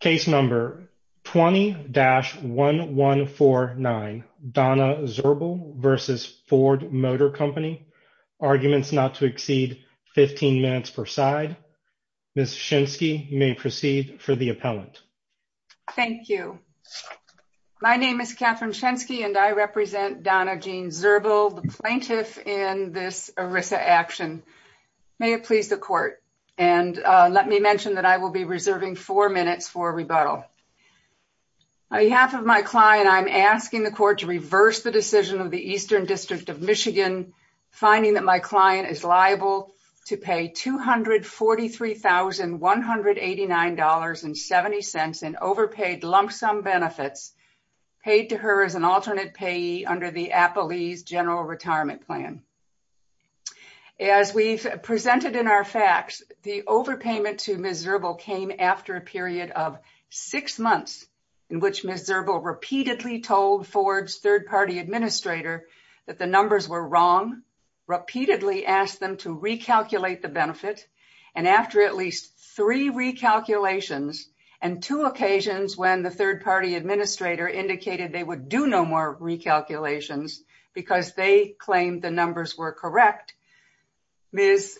Case number 20-1149, Donna Zirbel v. Ford Motor Company. Arguments not to exceed 15 minutes per side. Ms. Shensky, you may proceed for the appellant. Thank you. My name is Catherine Shensky and I represent Donna Jean Zirbel, the plaintiff in this ERISA action. May it please the court. And let me mention that I will be reserving four minutes for rebuttal. On behalf of my client, I'm asking the court to reverse the decision of the Eastern District of Michigan, finding that my client is liable to pay $243,189.70 in overpaid lump sum benefits paid to her as an alternate payee under the Appellee's General Retirement Plan. As we've presented in our facts, the overpayment to Ms. Zirbel came after a period of six months in which Ms. Zirbel repeatedly told Ford's third-party administrator that the numbers were wrong, repeatedly asked them to recalculate the benefit. And after at least three recalculations and two occasions when the third-party administrator indicated they would do no recalculations because they claimed the numbers were correct, Ms.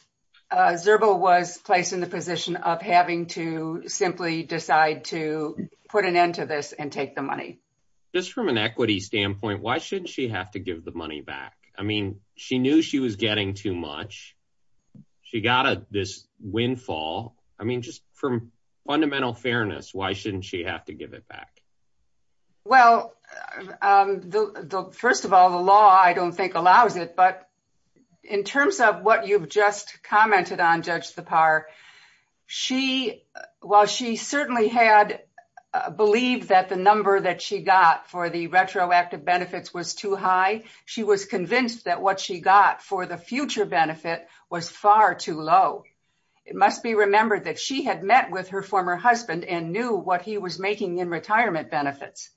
Zirbel was placed in the position of having to simply decide to put an end to this and take the money. Just from an equity standpoint, why shouldn't she have to give the money back? I mean, she knew she was getting too much. She got this windfall. I mean, just from fundamental fairness, why shouldn't she have to give it back? Well, first of all, the law I don't think allows it. But in terms of what you've just commented on, Judge Thapar, while she certainly had believed that the number that she got for the retroactive benefits was too high, she was convinced that what she got for the future benefit was far too low. It must be remembered that she had met with her former husband and knew what he was making in retirement benefits.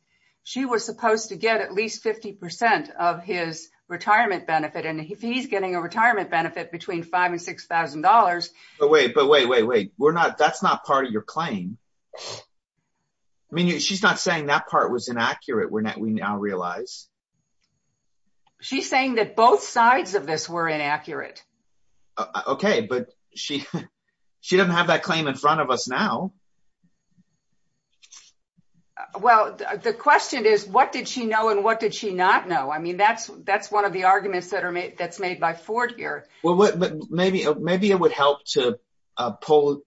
She was supposed to get at least 50 percent of his retirement benefit. And if he's getting a retirement benefit between $5,000 and $6,000... But wait, but wait, wait, wait. That's not part of your claim. I mean, she's not saying that part was inaccurate, we now realize. She's saying that both sides of this were inaccurate. Okay, but she doesn't have that claim in front of us now. Well, the question is, what did she know and what did she not know? I mean, that's one of the arguments that's made by Ford here. Well, maybe it would help to pull...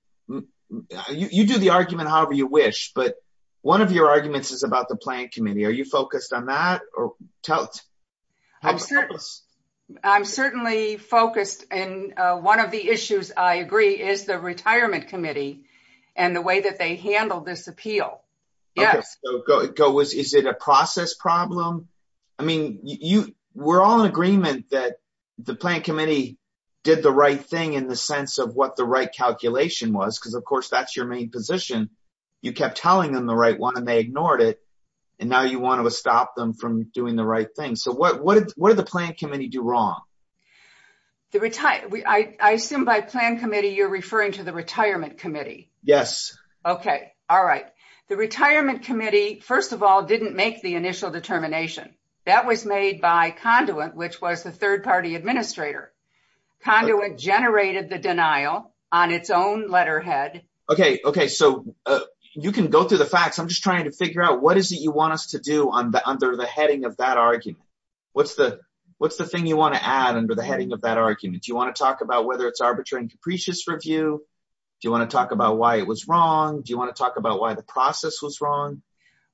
You do the argument however you wish, but one of your arguments is about the Planning Committee. Are you focused on that? I'm certainly focused. And one of the issues, I agree, is the Retirement Committee and the way they handled this appeal. Is it a process problem? I mean, we're all in agreement that the Planning Committee did the right thing in the sense of what the right calculation was, because of course, that's your main position. You kept telling them the right one and they ignored it. And now you want to stop them from doing the right thing. So what did the Planning Committee do wrong? I assume by Planning Committee, you're referring to the Retirement Committee. Yes. Okay. All right. The Retirement Committee, first of all, didn't make the initial determination. That was made by Conduit, which was the third party administrator. Conduit generated the denial on its own letterhead. Okay. So you can go through the facts. I'm just trying to figure out what is it you want us to do under the heading of that argument? What's the thing you want to add under the heading of that argument? Do you want to talk about whether it's arbitrary and capricious review? Do you want to talk about why it was wrong? Do you want to talk about why the process was wrong?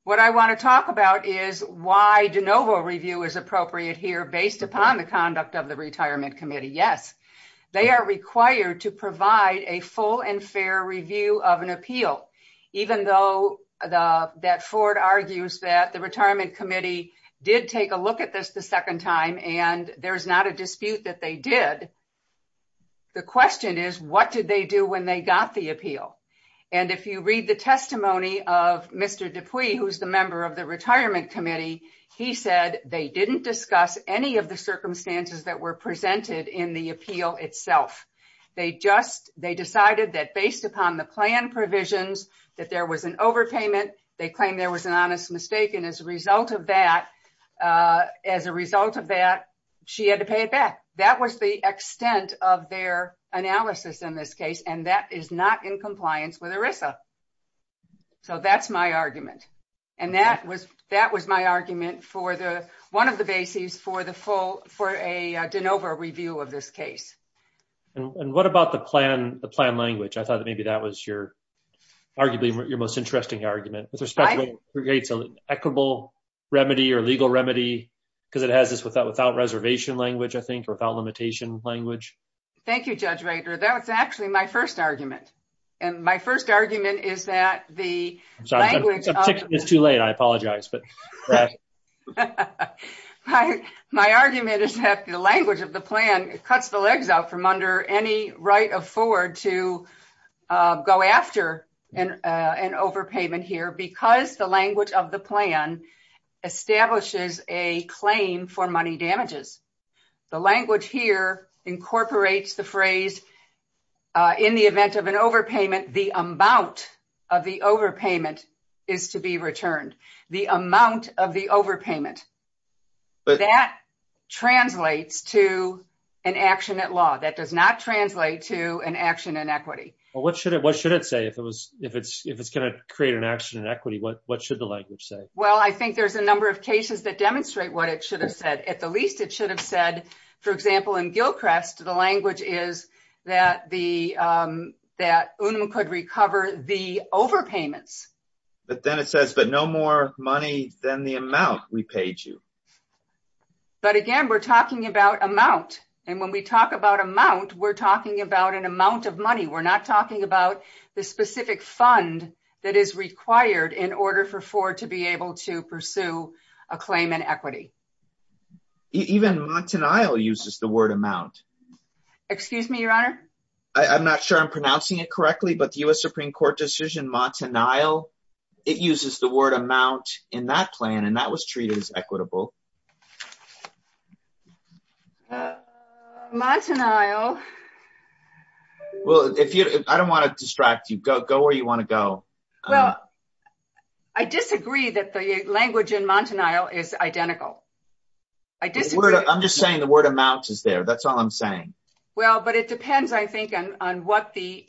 What I want to talk about is why de novo review is appropriate here based upon the conduct of the Retirement Committee. Yes. They are required to provide a full and fair review of an appeal. Even though that Ford argues that the Retirement Committee did take a look at this the second time, and there's not a dispute that they did, the question is, what did they do when they got the appeal? If you read the testimony of Mr. Dupuis, who's the member of the Retirement Committee, he said they didn't discuss any of the circumstances that were presented in the appeal itself. They decided that based upon the plan provisions, that there was an overpayment. They claimed there was an honest mistake, and as a result of that, she had to pay it back. That was the extent of their analysis in this case, and that is not in compliance with ERISA. So that's my argument. And that was my argument for one of the bases for a de novo review of this case. And what about the plan language? I thought that maybe that was your, your most interesting argument, with respect to what creates an equitable remedy or legal remedy, because it has this without reservation language, I think, or without limitation language. Thank you, Judge Rader. That was actually my first argument, and my first argument is that the language... It's too late. I apologize. My argument is that the language of the plan cuts the legs out from under any right of forward to go after an overpayment here, because the language of the plan establishes a claim for money damages. The language here incorporates the phrase, in the event of an overpayment, the amount of the overpayment is to be returned. The amount of the overpayment, that translates to an action at law. That does not translate to an action in equity. Well, what should it say if it's going to create an action in equity? What should the language say? Well, I think there's a number of cases that demonstrate what it should have said. At the least, it should have said, for example, in Gilchrest, the language is that Unum could repay you. But again, we're talking about amount, and when we talk about amount, we're talking about an amount of money. We're not talking about the specific fund that is required in order for Ford to be able to pursue a claim in equity. Even Montanile uses the word amount. Excuse me, Your Honor? I'm not sure I'm pronouncing it correctly, but the U.S. Supreme Court decision, Montanile, it uses the word amount in that plan, and that was treated as equitable. Montanile. Well, I don't want to distract you. Go where you want to go. Well, I disagree that the language in Montanile is identical. I'm just saying the word amount is there. That's all I'm saying. Well, but it depends, I think, on what the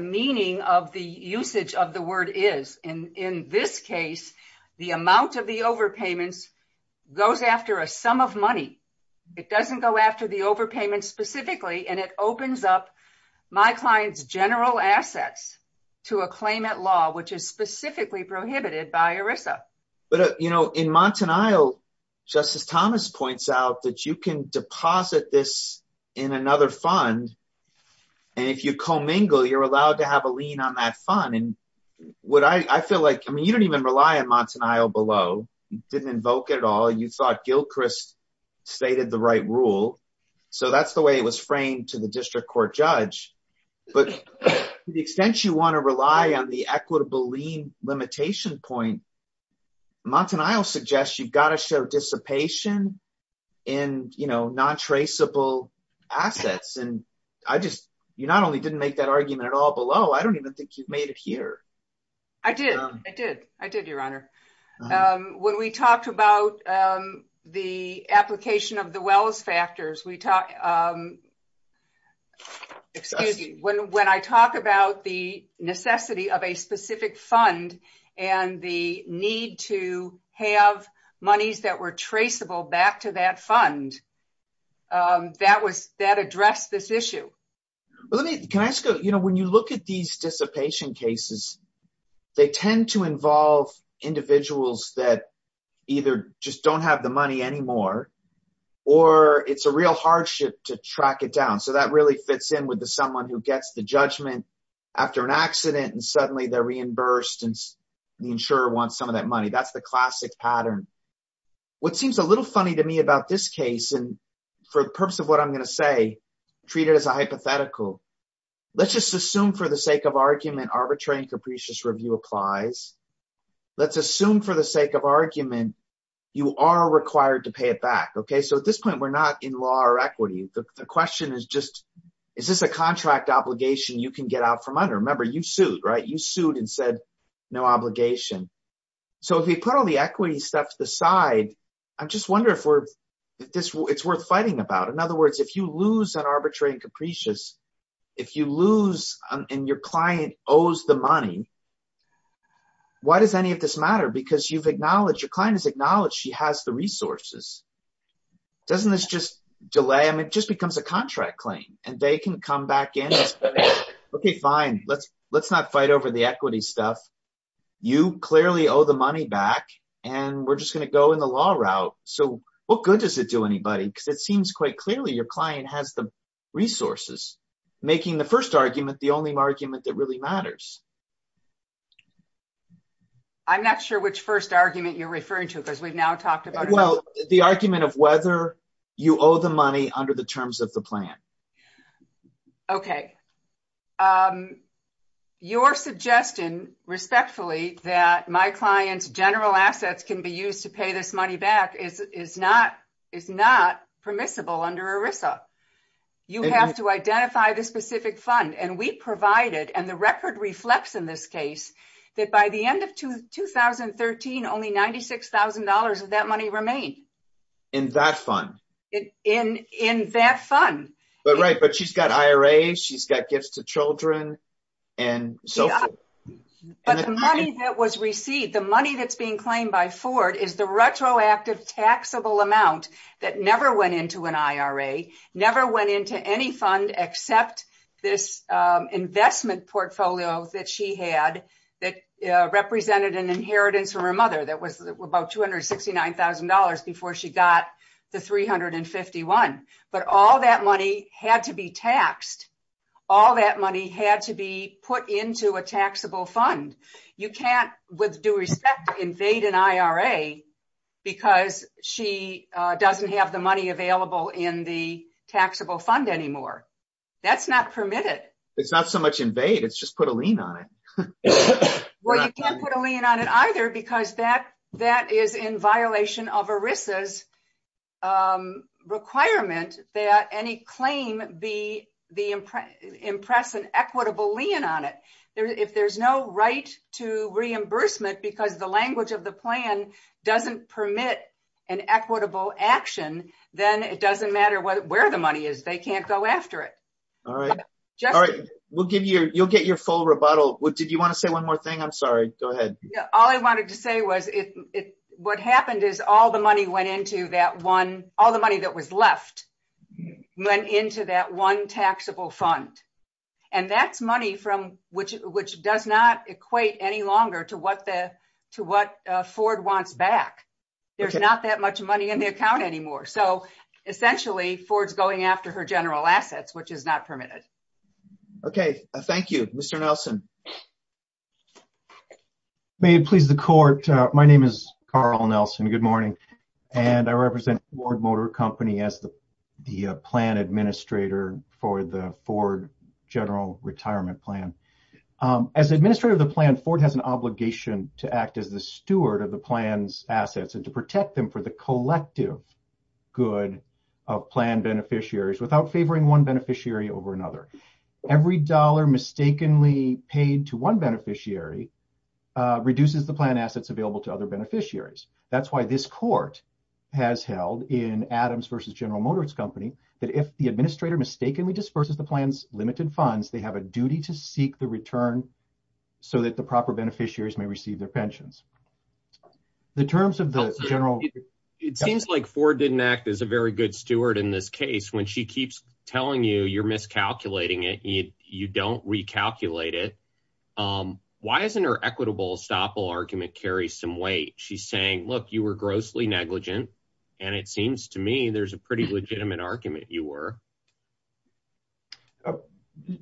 meaning of the usage of the word is. In this case, the amount of the overpayments goes after a sum of money. It doesn't go after the overpayments specifically, and it opens up my client's general assets to a claimant law, which is specifically prohibited by ERISA. But in Montanile, Justice Thomas points out that you can deposit this in another fund, and if you commingle, you're allowed to have a lien on that fund. I mean, you don't even rely on Montanile below. You didn't invoke it at all. You thought Gilchrist stated the right rule. So that's the way it was framed to the district court judge. But to the extent you want to rely on the equitable lien limitation point, Montanile suggests you've got to show dissipation in non-traceable assets. And you not only didn't make that argument at all below, I don't even think you've made it here. I did. I did. I did, Your Honor. When we talked about the application of the Wells factors, excuse me, when I talk about the necessity of a specific fund and the need to have monies that were traceable back to that fund, that addressed this issue. Let me, can I ask you, when you look at these dissipation cases, they tend to involve individuals that either just don't have the money anymore, or it's a real hardship to track it down. So that really fits in with the someone who gets the judgment after an accident and suddenly they're reimbursed and the insurer wants some of that money. That's the classic pattern. What seems a little funny to me about this case, and for the purpose of what I'm going to say, treat it as a hypothetical. Let's just assume for the sake of argument, arbitrary and capricious review applies. Let's assume for the sake of argument, you are required to pay it back. So at this point, we're not in law or equity. The question is just, is this a contract obligation you can get out from under? Remember you sued, right? You sued and said no obligation. So if we put all the equity stuff to the side, I'm just wondering if it's worth fighting about. In other words, if you lose an arbitrary and capricious, if you lose and your client owes the money, why does any of this matter? Because you've acknowledged she has the resources. Doesn't this just delay? I mean, it just becomes a contract claim and they can come back in and say, okay, fine. Let's not fight over the equity stuff. You clearly owe the money back and we're just going to go in the law route. So what good does it do anybody? Because it seems quite clearly your client has the resources, making the first argument, the only argument that really matters. I'm not sure which first argument you're referring to because we've now talked about it. Well, the argument of whether you owe the money under the terms of the plan. Okay. Your suggestion, respectfully, that my client's general assets can be used to pay this money back is not permissible under ERISA. You have to identify the specific fund and we provided, and the record reflects in this case, that by the end of 2013, only $96,000 of that money remained. In that fund? In that fund. But right, but she's got IRAs, she's got gifts to children, and so forth. But the money that was received, the money that's being claimed by Ford is the retroactive taxable amount that never went into an IRA, never went into any that was about $269,000 before she got the $351,000. But all that money had to be taxed. All that money had to be put into a taxable fund. You can't, with due respect, invade an IRA because she doesn't have the money available in the taxable fund anymore. That's not permitted. It's not so much invade, it's just put a lien on it. Well, you can't put a lien on it either because that is in violation of ERISA's requirement that any claim impress an equitable lien on it. If there's no right to reimbursement because the language of the plan doesn't permit an equitable action, then it doesn't matter where the money is. They can't go after it. All right. All right. You'll get your full rebuttal. Did you want to say one more thing? I'm sorry. Go ahead. All I wanted to say was what happened is all the money went into that one, all the money that was left went into that one taxable fund. And that's money which does not equate any longer to what Ford wants back. There's not that much money in the account anymore. So essentially Ford's going after her general assets, which is not permitted. Okay. Thank you. Mr. Nelson. May it please the court. My name is Carl Nelson. Good morning. And I represent Ford Motor Company as the plan administrator for the Ford General Retirement Plan. As administrator of the plan, Ford has an obligation to act as the steward of the plan's assets and to protect them for the Every dollar mistakenly paid to one beneficiary reduces the plan assets available to other beneficiaries. That's why this court has held in Adams versus General Motors Company, that if the administrator mistakenly disperses the plan's limited funds, they have a duty to seek the return so that the proper beneficiaries may receive their pensions. The terms of the general. It seems like Ford didn't act as a very good steward in this case when she keeps telling you you're miscalculating it, you don't recalculate it. Why isn't her equitable estoppel argument carry some weight? She's saying, look, you were grossly negligent. And it seems to me there's a pretty legitimate argument you were.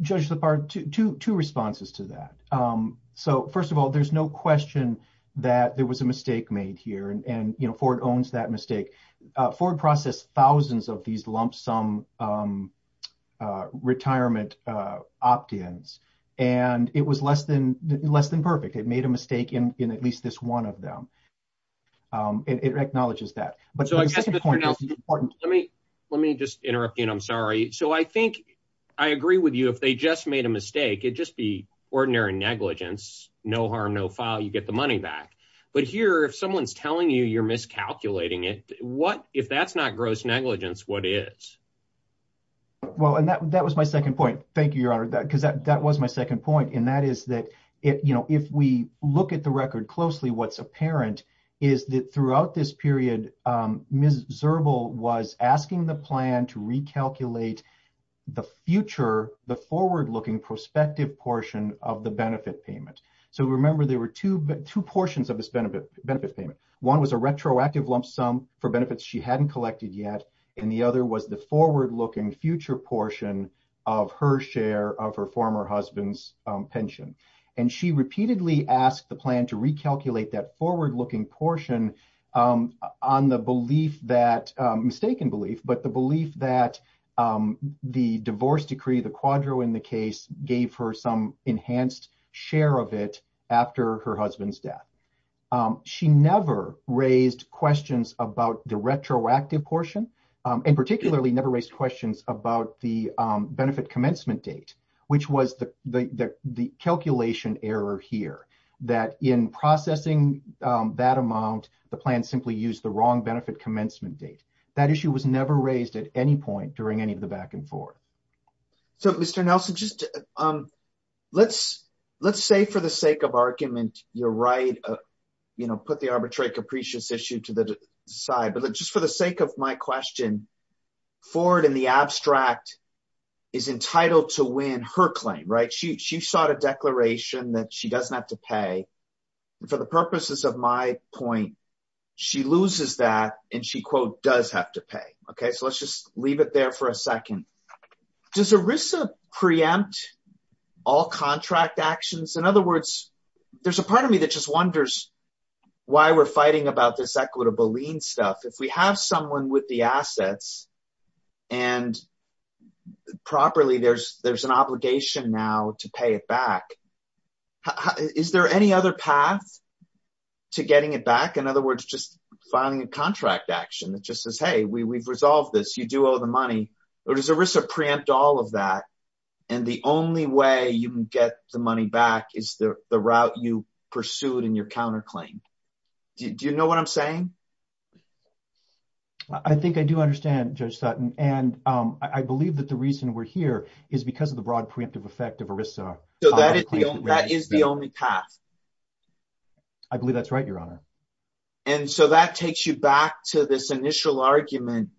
Judge LaPard, two responses to that. So first of all, there's no question that there was a mistake made here. And Ford owns that mistake. Ford processed thousands of these lump sum retirement opt-ins. And it was less than less than perfect. It made a mistake in at least this one of them. It acknowledges that. But so I guess the point is, let me let me just interrupt you, and I'm sorry. So I think I agree with you. If they just made a mistake, it'd just be telling you you're miscalculating it. What if that's not gross negligence, what is? Well, and that was my second point. Thank you, Your Honor, because that was my second point. And that is that if we look at the record closely, what's apparent is that throughout this period, Ms. Zerbel was asking the plan to recalculate the future, the forward looking prospective portion of the benefit payment. So remember, there were two portions of this benefit payment. One was a retroactive lump sum for benefits she hadn't collected yet. And the other was the forward looking future portion of her share of her former husband's pension. And she repeatedly asked the plan to recalculate that forward looking portion on the belief that mistaken belief, but the belief that the divorce decree, the quadro in the case gave her some enhanced share of it after her husband's death. She never raised questions about the retroactive portion, and particularly never raised questions about the benefit commencement date, which was the calculation error here, that in processing that amount, the plan simply used the wrong benefit commencement date. That issue was never raised at any point during any of the back and forth. So Mr. Nelson, let's say for the sake of argument, you're right, put the arbitrary capricious issue to the side. But just for the sake of my question, Ford in the abstract is entitled to win her claim, right? She sought a declaration that she doesn't have to pay. For the purposes of my point, she loses that and she does have to pay. Okay, so let's just leave it there for a second. Does ERISA preempt all contract actions? In other words, there's a part of me that just wonders why we're fighting about this equitable lien stuff. If we have someone with the assets and properly there's an obligation now to pay it back. Is there any other path to getting it back? In other words, just filing a contract action that just says, hey, we've resolved this, you do owe the money. Or does ERISA preempt all of that and the only way you can get the money back is the route you pursued in your counterclaim? Do you know what I'm saying? I think I do understand, Judge Sutton. And I believe that the reason we're here is because of the broad preemptive effect of ERISA. So that is the only path. I believe that's right, Your Honor. And so that takes you back to this initial argument.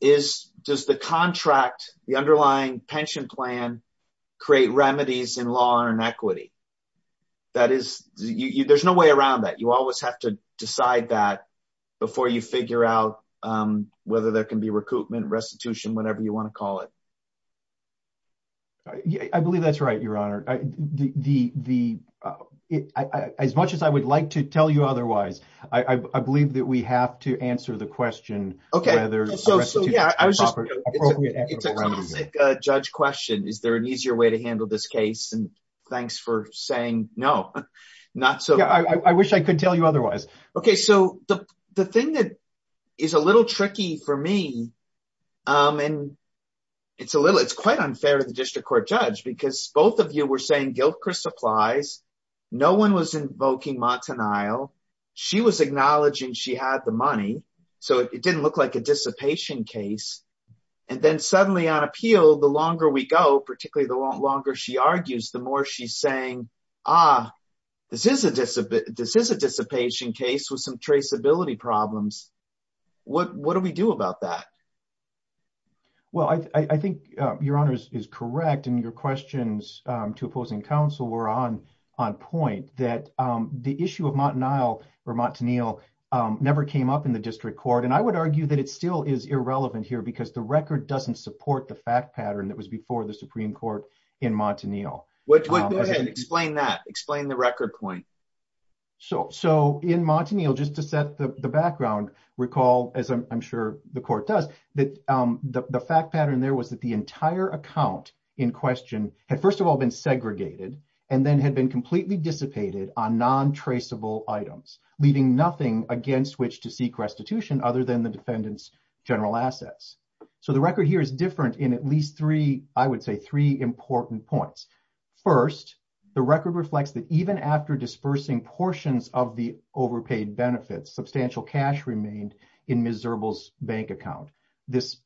Does the contract, the underlying pension plan, create remedies in law and equity? There's no way around that. You always have to decide that before you figure out whether there can be recoupment, restitution, whatever you want to call it. Yeah, I believe that's right, Your Honor. As much as I would like to tell you otherwise, I believe that we have to answer the question whether restitution is an appropriate act. It's a classic judge question. Is there an easier way to handle this case? And thanks for saying no, not so. Yeah, I wish I could tell you otherwise. Okay, so the thing that is a little tricky for me, and it's quite unfair to the district court judge, because both of you were saying Gilchrist applies. No one was invoking Montanile. She was acknowledging she had the money. So it didn't look like a dissipation case. And then suddenly on appeal, the longer we go, particularly the longer she argues, the more she's saying, ah, this is a dissipation case with some traceability problems. What do we do about that? Well, I think Your Honor is correct. And your questions to opposing counsel were on point that the issue of Montanile never came up in the district court. And I would argue that it still is irrelevant here because the record doesn't support the fact pattern that was before the Supreme Court in Montanile. Go ahead. Explain that. Explain the record point. So in Montanile, just to set the background, recall, as I'm sure the court does, that the fact pattern there was that the entire account in question had first of all been segregated and then had been completely dissipated on non-traceable items, leaving nothing against which to seek restitution other than the defendant's general assets. So the record here is in at least three, I would say three important points. First, the record reflects that even after dispersing portions of the overpaid benefits, substantial cash remained in Ms. Zirbel's bank account. This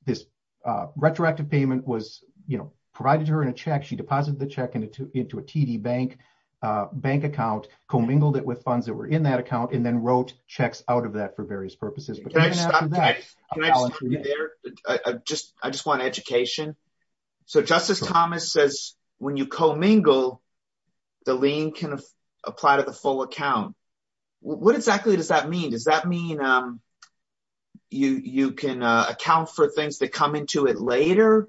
retroactive payment was, you know, provided her in a check. She deposited the check into a TD bank account, commingled it with funds that were in that account, and then wrote checks out of that for various purposes. Can I just stop there? I just want education. So Justice Thomas says when you commingle, the lien can apply to the full account. What exactly does that mean? Does that mean you can account for things that come into it later?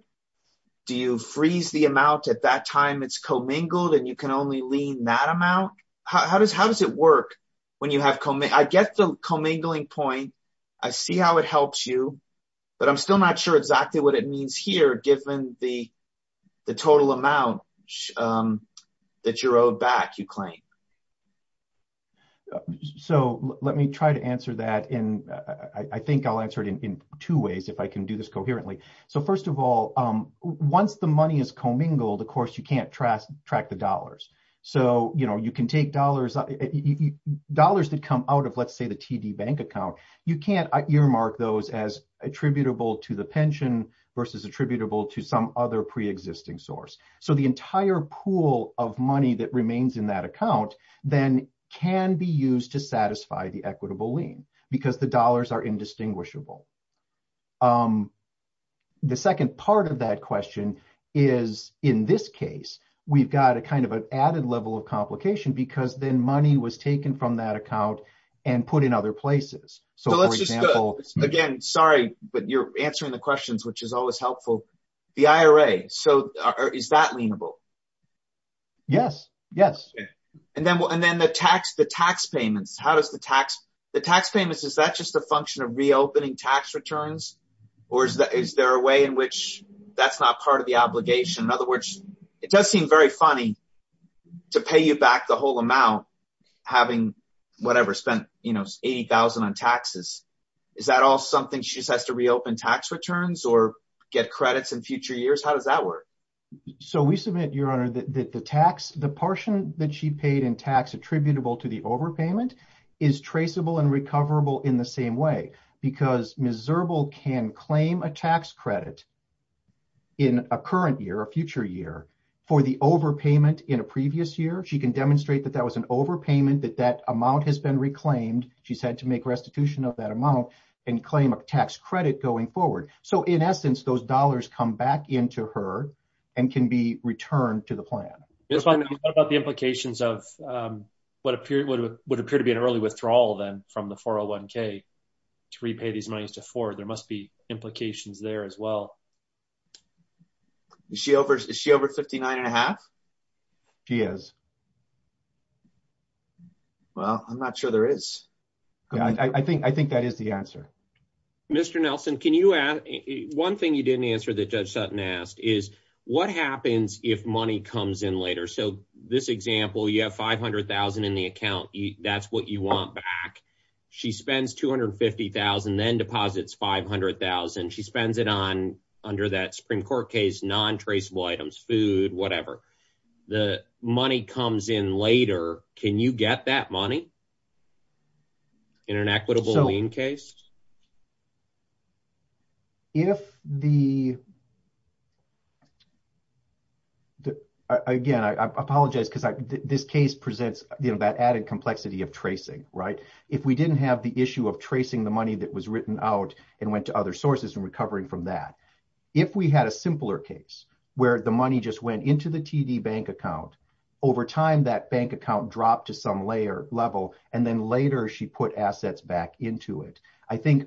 Do you freeze the amount at that time it's commingled and you can only lien that amount? How does it work when you have commingled? I get the commingling point. I see how it helps you, but I'm still not sure exactly what it means here, given the total amount that you're owed back, you claim. So let me try to answer that. And I think I'll answer it in two ways, if I can do this coherently. So first of all, once the money is commingled, of course, you can't track the dollars. So, you can take dollars that come out of, let's say, the TD bank account. You can't earmark those as attributable to the pension versus attributable to some other pre-existing source. So the entire pool of money that remains in that account then can be used to satisfy the equitable lien, because the dollars are indistinguishable. The second part of that question is in this case, we've got a kind of an added level of complication because then money was taken from that account and put in other places. So let's just, again, sorry, but you're answering the questions, which is always helpful. The IRA, so is that lienable? Yes, yes. And then the tax payments, how does the tax, the tax payments, is that just a function of reopening tax returns? Or is there a way in which that's not part of the obligation? In other words, it does seem very funny to pay you back the whole amount having, whatever, spent, you know, $80,000 on taxes. Is that all something she just has to reopen tax returns or get credits in future years? How does that work? So we submit, Your Honor, that the tax, the portion that she paid in tax attributable to the overpayment is traceable and recoverable in the same way, because Ms. Zirbel can claim a tax credit in a current year, a future year, for the overpayment in a previous year. She can demonstrate that that was an overpayment, that that amount has been reclaimed. She's had to make restitution of that amount and claim a tax credit going forward. So in essence, those dollars come back into her and can be returned to the plan. What about the repay these monies to Ford? There must be implications there as well. Is she over 59 and a half? She is. Well, I'm not sure there is. I think that is the answer. Mr. Nelson, can you add one thing you didn't answer that Judge Sutton asked is what happens if money comes in later? So this example, you have $500,000 in the account. That's what you want back. She spends $250,000, then deposits $500,000. She spends it on under that Supreme Court case, non-traceable items, food, whatever. The money comes in later. Can you get that money in an equitable lien case? Again, I apologize because this case presents that added complexity of tracing. If we didn't have the issue of tracing the money that was written out and went to other sources and recovering from that, if we had a simpler case where the money just went into the TD bank account, over time that bank account dropped to some level and then later she put assets back into it,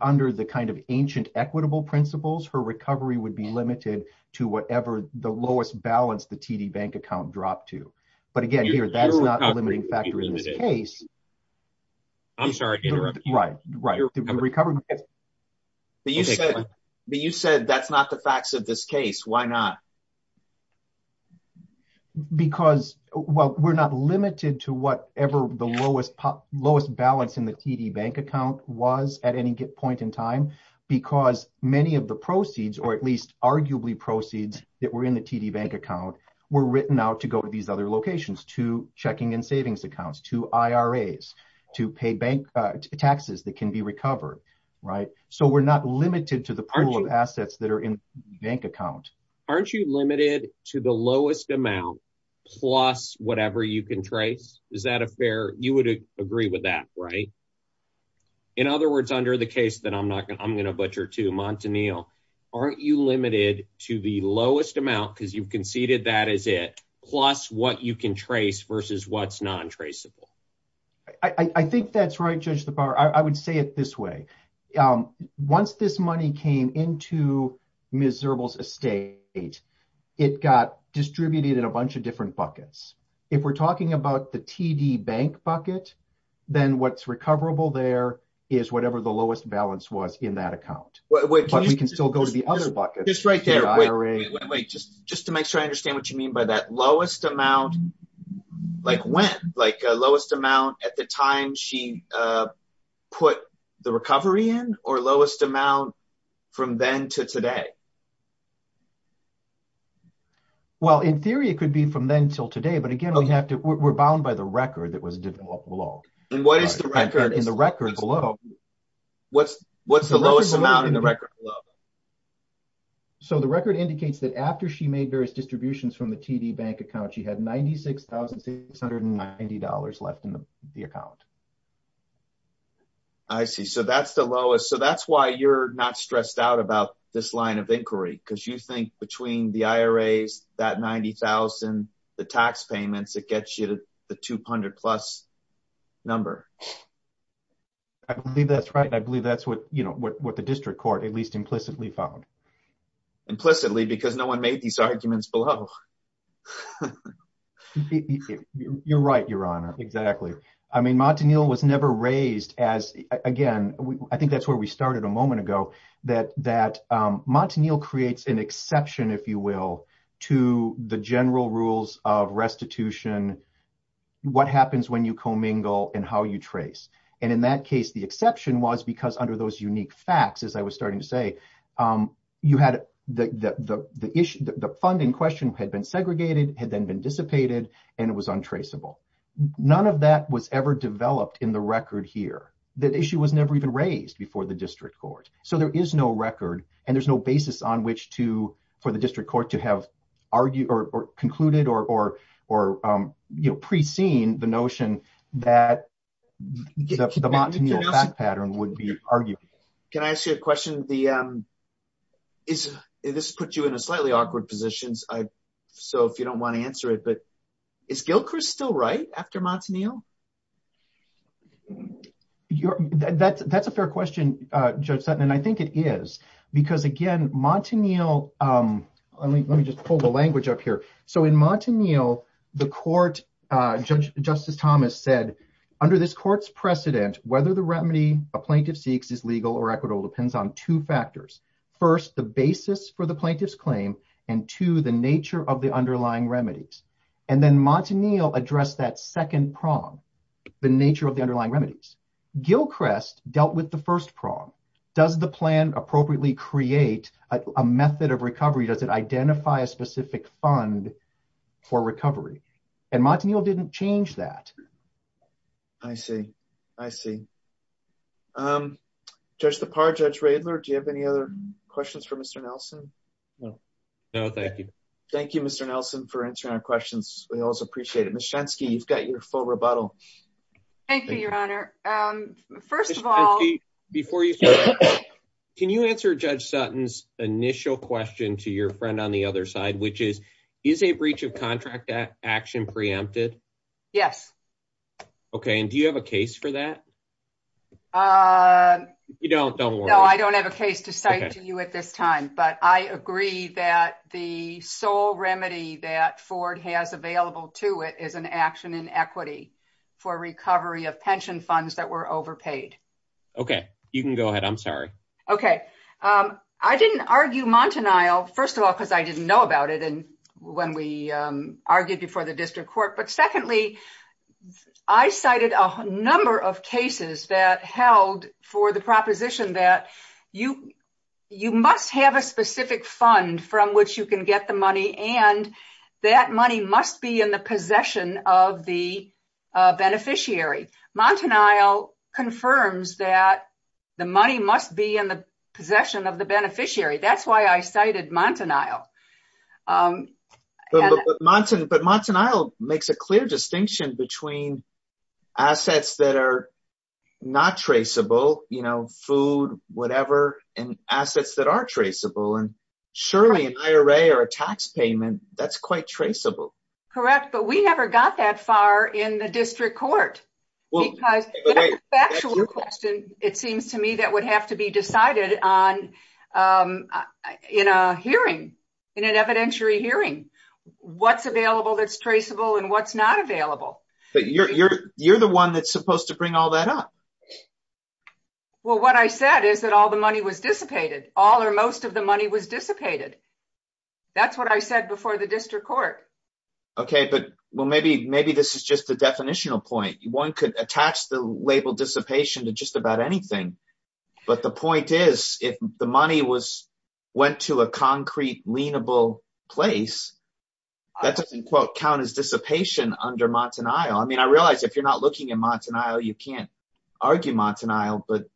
under the ancient equitable principles, her recovery would be limited to whatever the lowest balance the TD bank account dropped to. But again, that's not a limiting factor in this case. But you said that's not the facts of this case. Why not? Because we're not limited to whatever the lowest balance in the TD bank account was at any point in time, because many of the proceeds, or at least arguably proceeds that were in the TD bank account, were written out to go to these other locations, to checking and savings accounts, to IRAs, to pay bank taxes that can be recovered. We're not limited to the pool of assets that are in the bank account. Aren't you limited to the lowest amount plus whatever you can trace? You would agree with that, right? In other words, under the case that I'm going to butcher too, Montanil, aren't you limited to the lowest amount, because you've conceded that is it, plus what you can trace versus what's non-traceable? I think that's right, Judge Lepar. I would say it this way. Once this money came into Ms. Zirbel's estate, it got distributed in a bunch of different buckets. If we're talking about the TD bank bucket, then what's recoverable there is whatever the lowest balance was in that account. We can still go to the other buckets. Just to make sure I understand what you mean by that, lowest amount, like when? Lowest amount at the time she put the recovery in, or lowest amount from then to today? In theory, it could be from then till today, but again, we're bound by the record that was below. What's the lowest amount in the record? The record indicates that after she made various distributions from the TD bank account, she had $96,690 left in the account. I see. That's the lowest. That's why you're not stressed out about this line of inquiry, because you think between the IRAs, that $90,000, the tax payments, it gets you to the 200 plus number. I believe that's right. I believe that's what the district court at least implicitly found. Implicitly, because no one made these arguments below. You're right, Your Honor. Exactly. Montanil was never raised as, again, I think that's where we restitution, what happens when you commingle and how you trace. In that case, the exception was because under those unique facts, as I was starting to say, the funding question had been segregated, had then been dissipated, and it was untraceable. None of that was ever developed in the record here. That issue was never even raised before the district court. There is no record and there's no record to have concluded or pre-seen the notion that the Montanil fact pattern would be argued. Can I ask you a question? This has put you in a slightly awkward position, so if you don't want to answer it, but is Gilchrist still right after Montanil? That's a fair question, Judge Sutton, and I think it is because, again, Montanil, let me just pull the language up here. In Montanil, the court, Judge Justice Thomas said, under this court's precedent, whether the remedy a plaintiff seeks is legal or equitable depends on two factors. First, the basis for the plaintiff's claim, and two, the nature of the underlying remedies. And then Montanil addressed that second prong, the nature of the underlying remedies. Gilchrist dealt with the first prong. Does the plan appropriately create a method of recovery? Does it identify a specific fund for recovery? And Montanil didn't change that. I see. I see. Judge Lepar, Judge Radler, do you have any other questions for Mr. Nelson? No. No, thank you. Thank you, Mr. Nelson, for answering our questions. We always appreciate it. Ms. Shensky, you've got your full rebuttal. Thank you, Your Honor. First of all... Ms. Shensky, before you start, can you answer Judge Sutton's initial question to your friend on the other side, which is, is a breach of contract action preempted? Yes. Okay, and do you have a case for that? You don't, don't worry. I don't have a case to cite to you at this time, but I agree that the sole remedy that Ford has available to it is an action in equity for recovery of pension funds that were overpaid. Okay, you can go ahead. I'm sorry. Okay. I didn't argue Montanil, first of all, because I didn't know about it when we argued before the district court. But secondly, I cited a number of cases that held for the proposition that you must have a specific fund from which you can get the money, and that money must be in the possession of the beneficiary. Montanil confirms that the money must be in the possession of the beneficiary. That's why I cited Montanil. But Montanil makes a clear distinction between assets that are not traceable, you know, food, whatever, and assets that are traceable. And surely an IRA or a tax payment, that's quite traceable. Correct. But we never got that far in the district court. Because the actual question, it seems to me that would have to be decided on in a hearing, in an evidentiary hearing, what's available that's traceable and what's not available. But you're the one that's supposed to bring all that up. Well, what I said is that all the money was dissipated. All or most of the money was dissipated. That's what I said before the district court. Okay. But well, maybe this is just the definitional point. One could attach the label dissipation to just about anything. But the point is, if the money went to a concrete, lienable place, that doesn't, quote, count as dissipation under Montanil. I mean, I realize if you're not looking at Montanil, you can't argue Montanil, but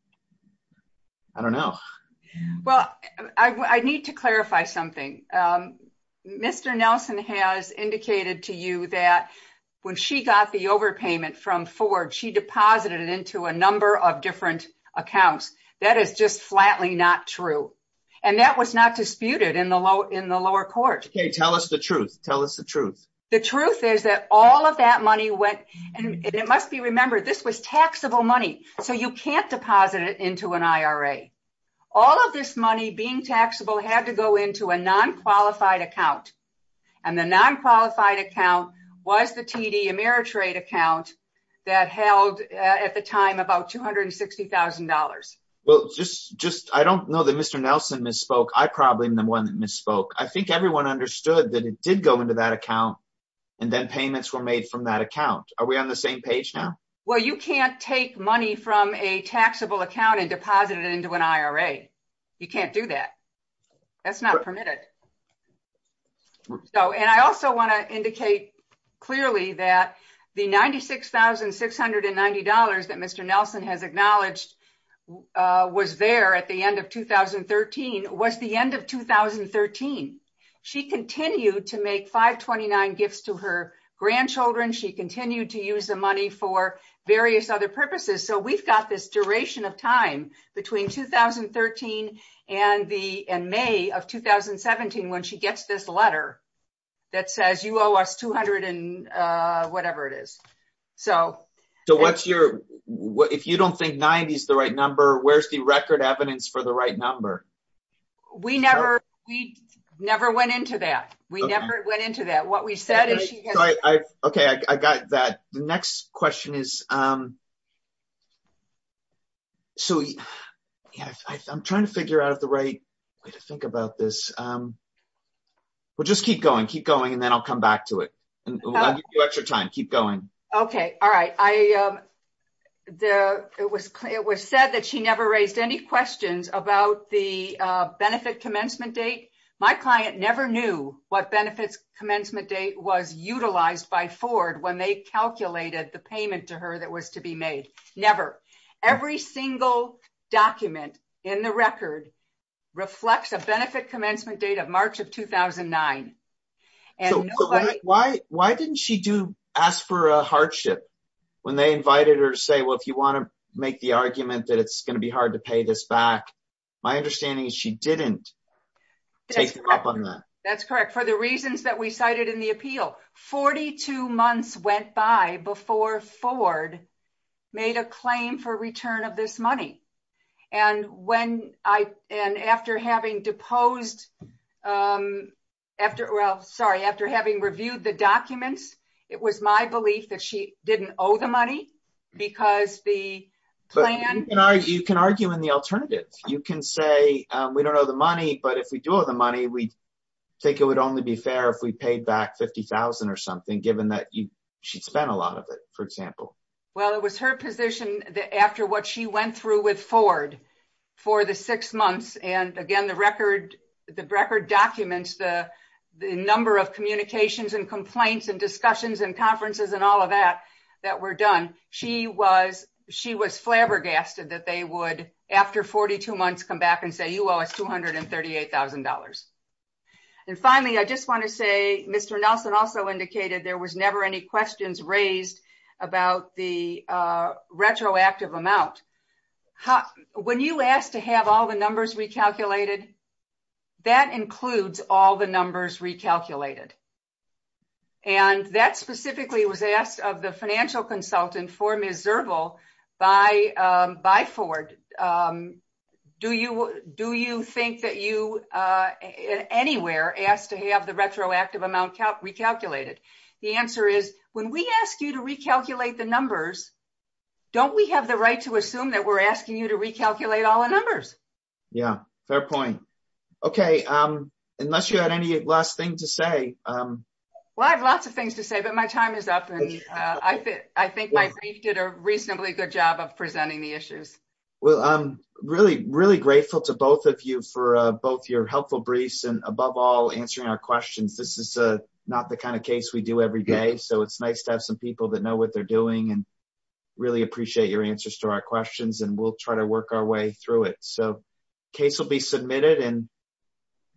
I don't know. Well, I need to clarify something. Mr. Nelson has indicated to you that when she got the overpayment from Ford, she deposited it into a number of different accounts. That is just in the lower court. Okay. Tell us the truth. Tell us the truth. The truth is that all of that money went, and it must be remembered, this was taxable money, so you can't deposit it into an IRA. All of this money, being taxable, had to go into a non-qualified account. And the non-qualified account was the TD Ameritrade account that held at the time about $260,000. Well, I don't know that Mr. Nelson misspoke. I probably am the one that misspoke. I think everyone understood that it did go into that account, and then payments were made from that account. Are we on the same page now? Well, you can't take money from a taxable account and deposit it into an IRA. You can't do that. That's not permitted. And I also want to indicate clearly that the $96,690 that Mr. Nelson has acknowledged was there at the end of 2013 was the end of 2013. She continued to make 529 gifts to her grandchildren. She continued to use the money for various other purposes. So we've got this duration of time between 2013 and May of 2017 when she gets this letter that says, owe us $200,000 and whatever it is. So what's your, if you don't think $90,000 is the right number, where's the record evidence for the right number? We never went into that. We never went into that. What we said is... Okay, I got that. The next question is, so I'm trying to figure out the right way to think about this. Well, just keep going, keep going, and then I'll come back to it. I'll give you extra time. Keep going. Okay. All right. It was said that she never raised any questions about the benefit commencement date. My client never knew what benefits commencement date was utilized by Ford when they calculated the payment to her that was to be made. Never. Every single document in the record reflects a benefit commencement date of March of 2009. Why didn't she ask for a hardship when they invited her to say, well, if you want to make the argument that it's going to be hard to pay this back? My understanding is she didn't take them up on that. That's correct. For the reasons that we cited in the appeal, 42 months went by before Ford made a claim for return of this money. After having deposed... Well, sorry. After having reviewed the documents, it was my belief that she didn't owe the money because the plan... You can argue in the alternative. You can say, we don't owe the money, but if we do owe the money, we think it would only be fair if we paid back 50,000 or something, given that she'd spent a lot of it, for example. Well, it was her position that after what she went through with Ford for the six months, and again, the record documents the number of communications and complaints and discussions and conferences and all of that that were done, she was flabbergasted that they would, after 42 months, come back and say, you owe us $238,000. Finally, I just want to say, Mr. Nelson also indicated there was never any questions raised about the retroactive amount. When you ask to have all the numbers recalculated, that includes all the numbers recalculated. That specifically was asked of the financial consultant for Ms. Zerval by Ford. Do you think that you anywhere asked to have the retroactive amount recalculated? The answer is, when we ask you to recalculate the numbers, don't we have the right to assume that we're asking you to recalculate all the numbers? Yeah, fair point. Okay. Unless you had any last thing to say. Well, I have lots of things to say, but my time is up. I think my brief did a reasonably good job of presenting the issues. Well, I'm really, really grateful to both of you for both your helpful briefs and above all, answering our questions. This is not the kind of case we do every day, so it's nice to have some people that know what they're doing and really appreciate your answers to our questions, and we'll try to work our way through it. Case will be submitted.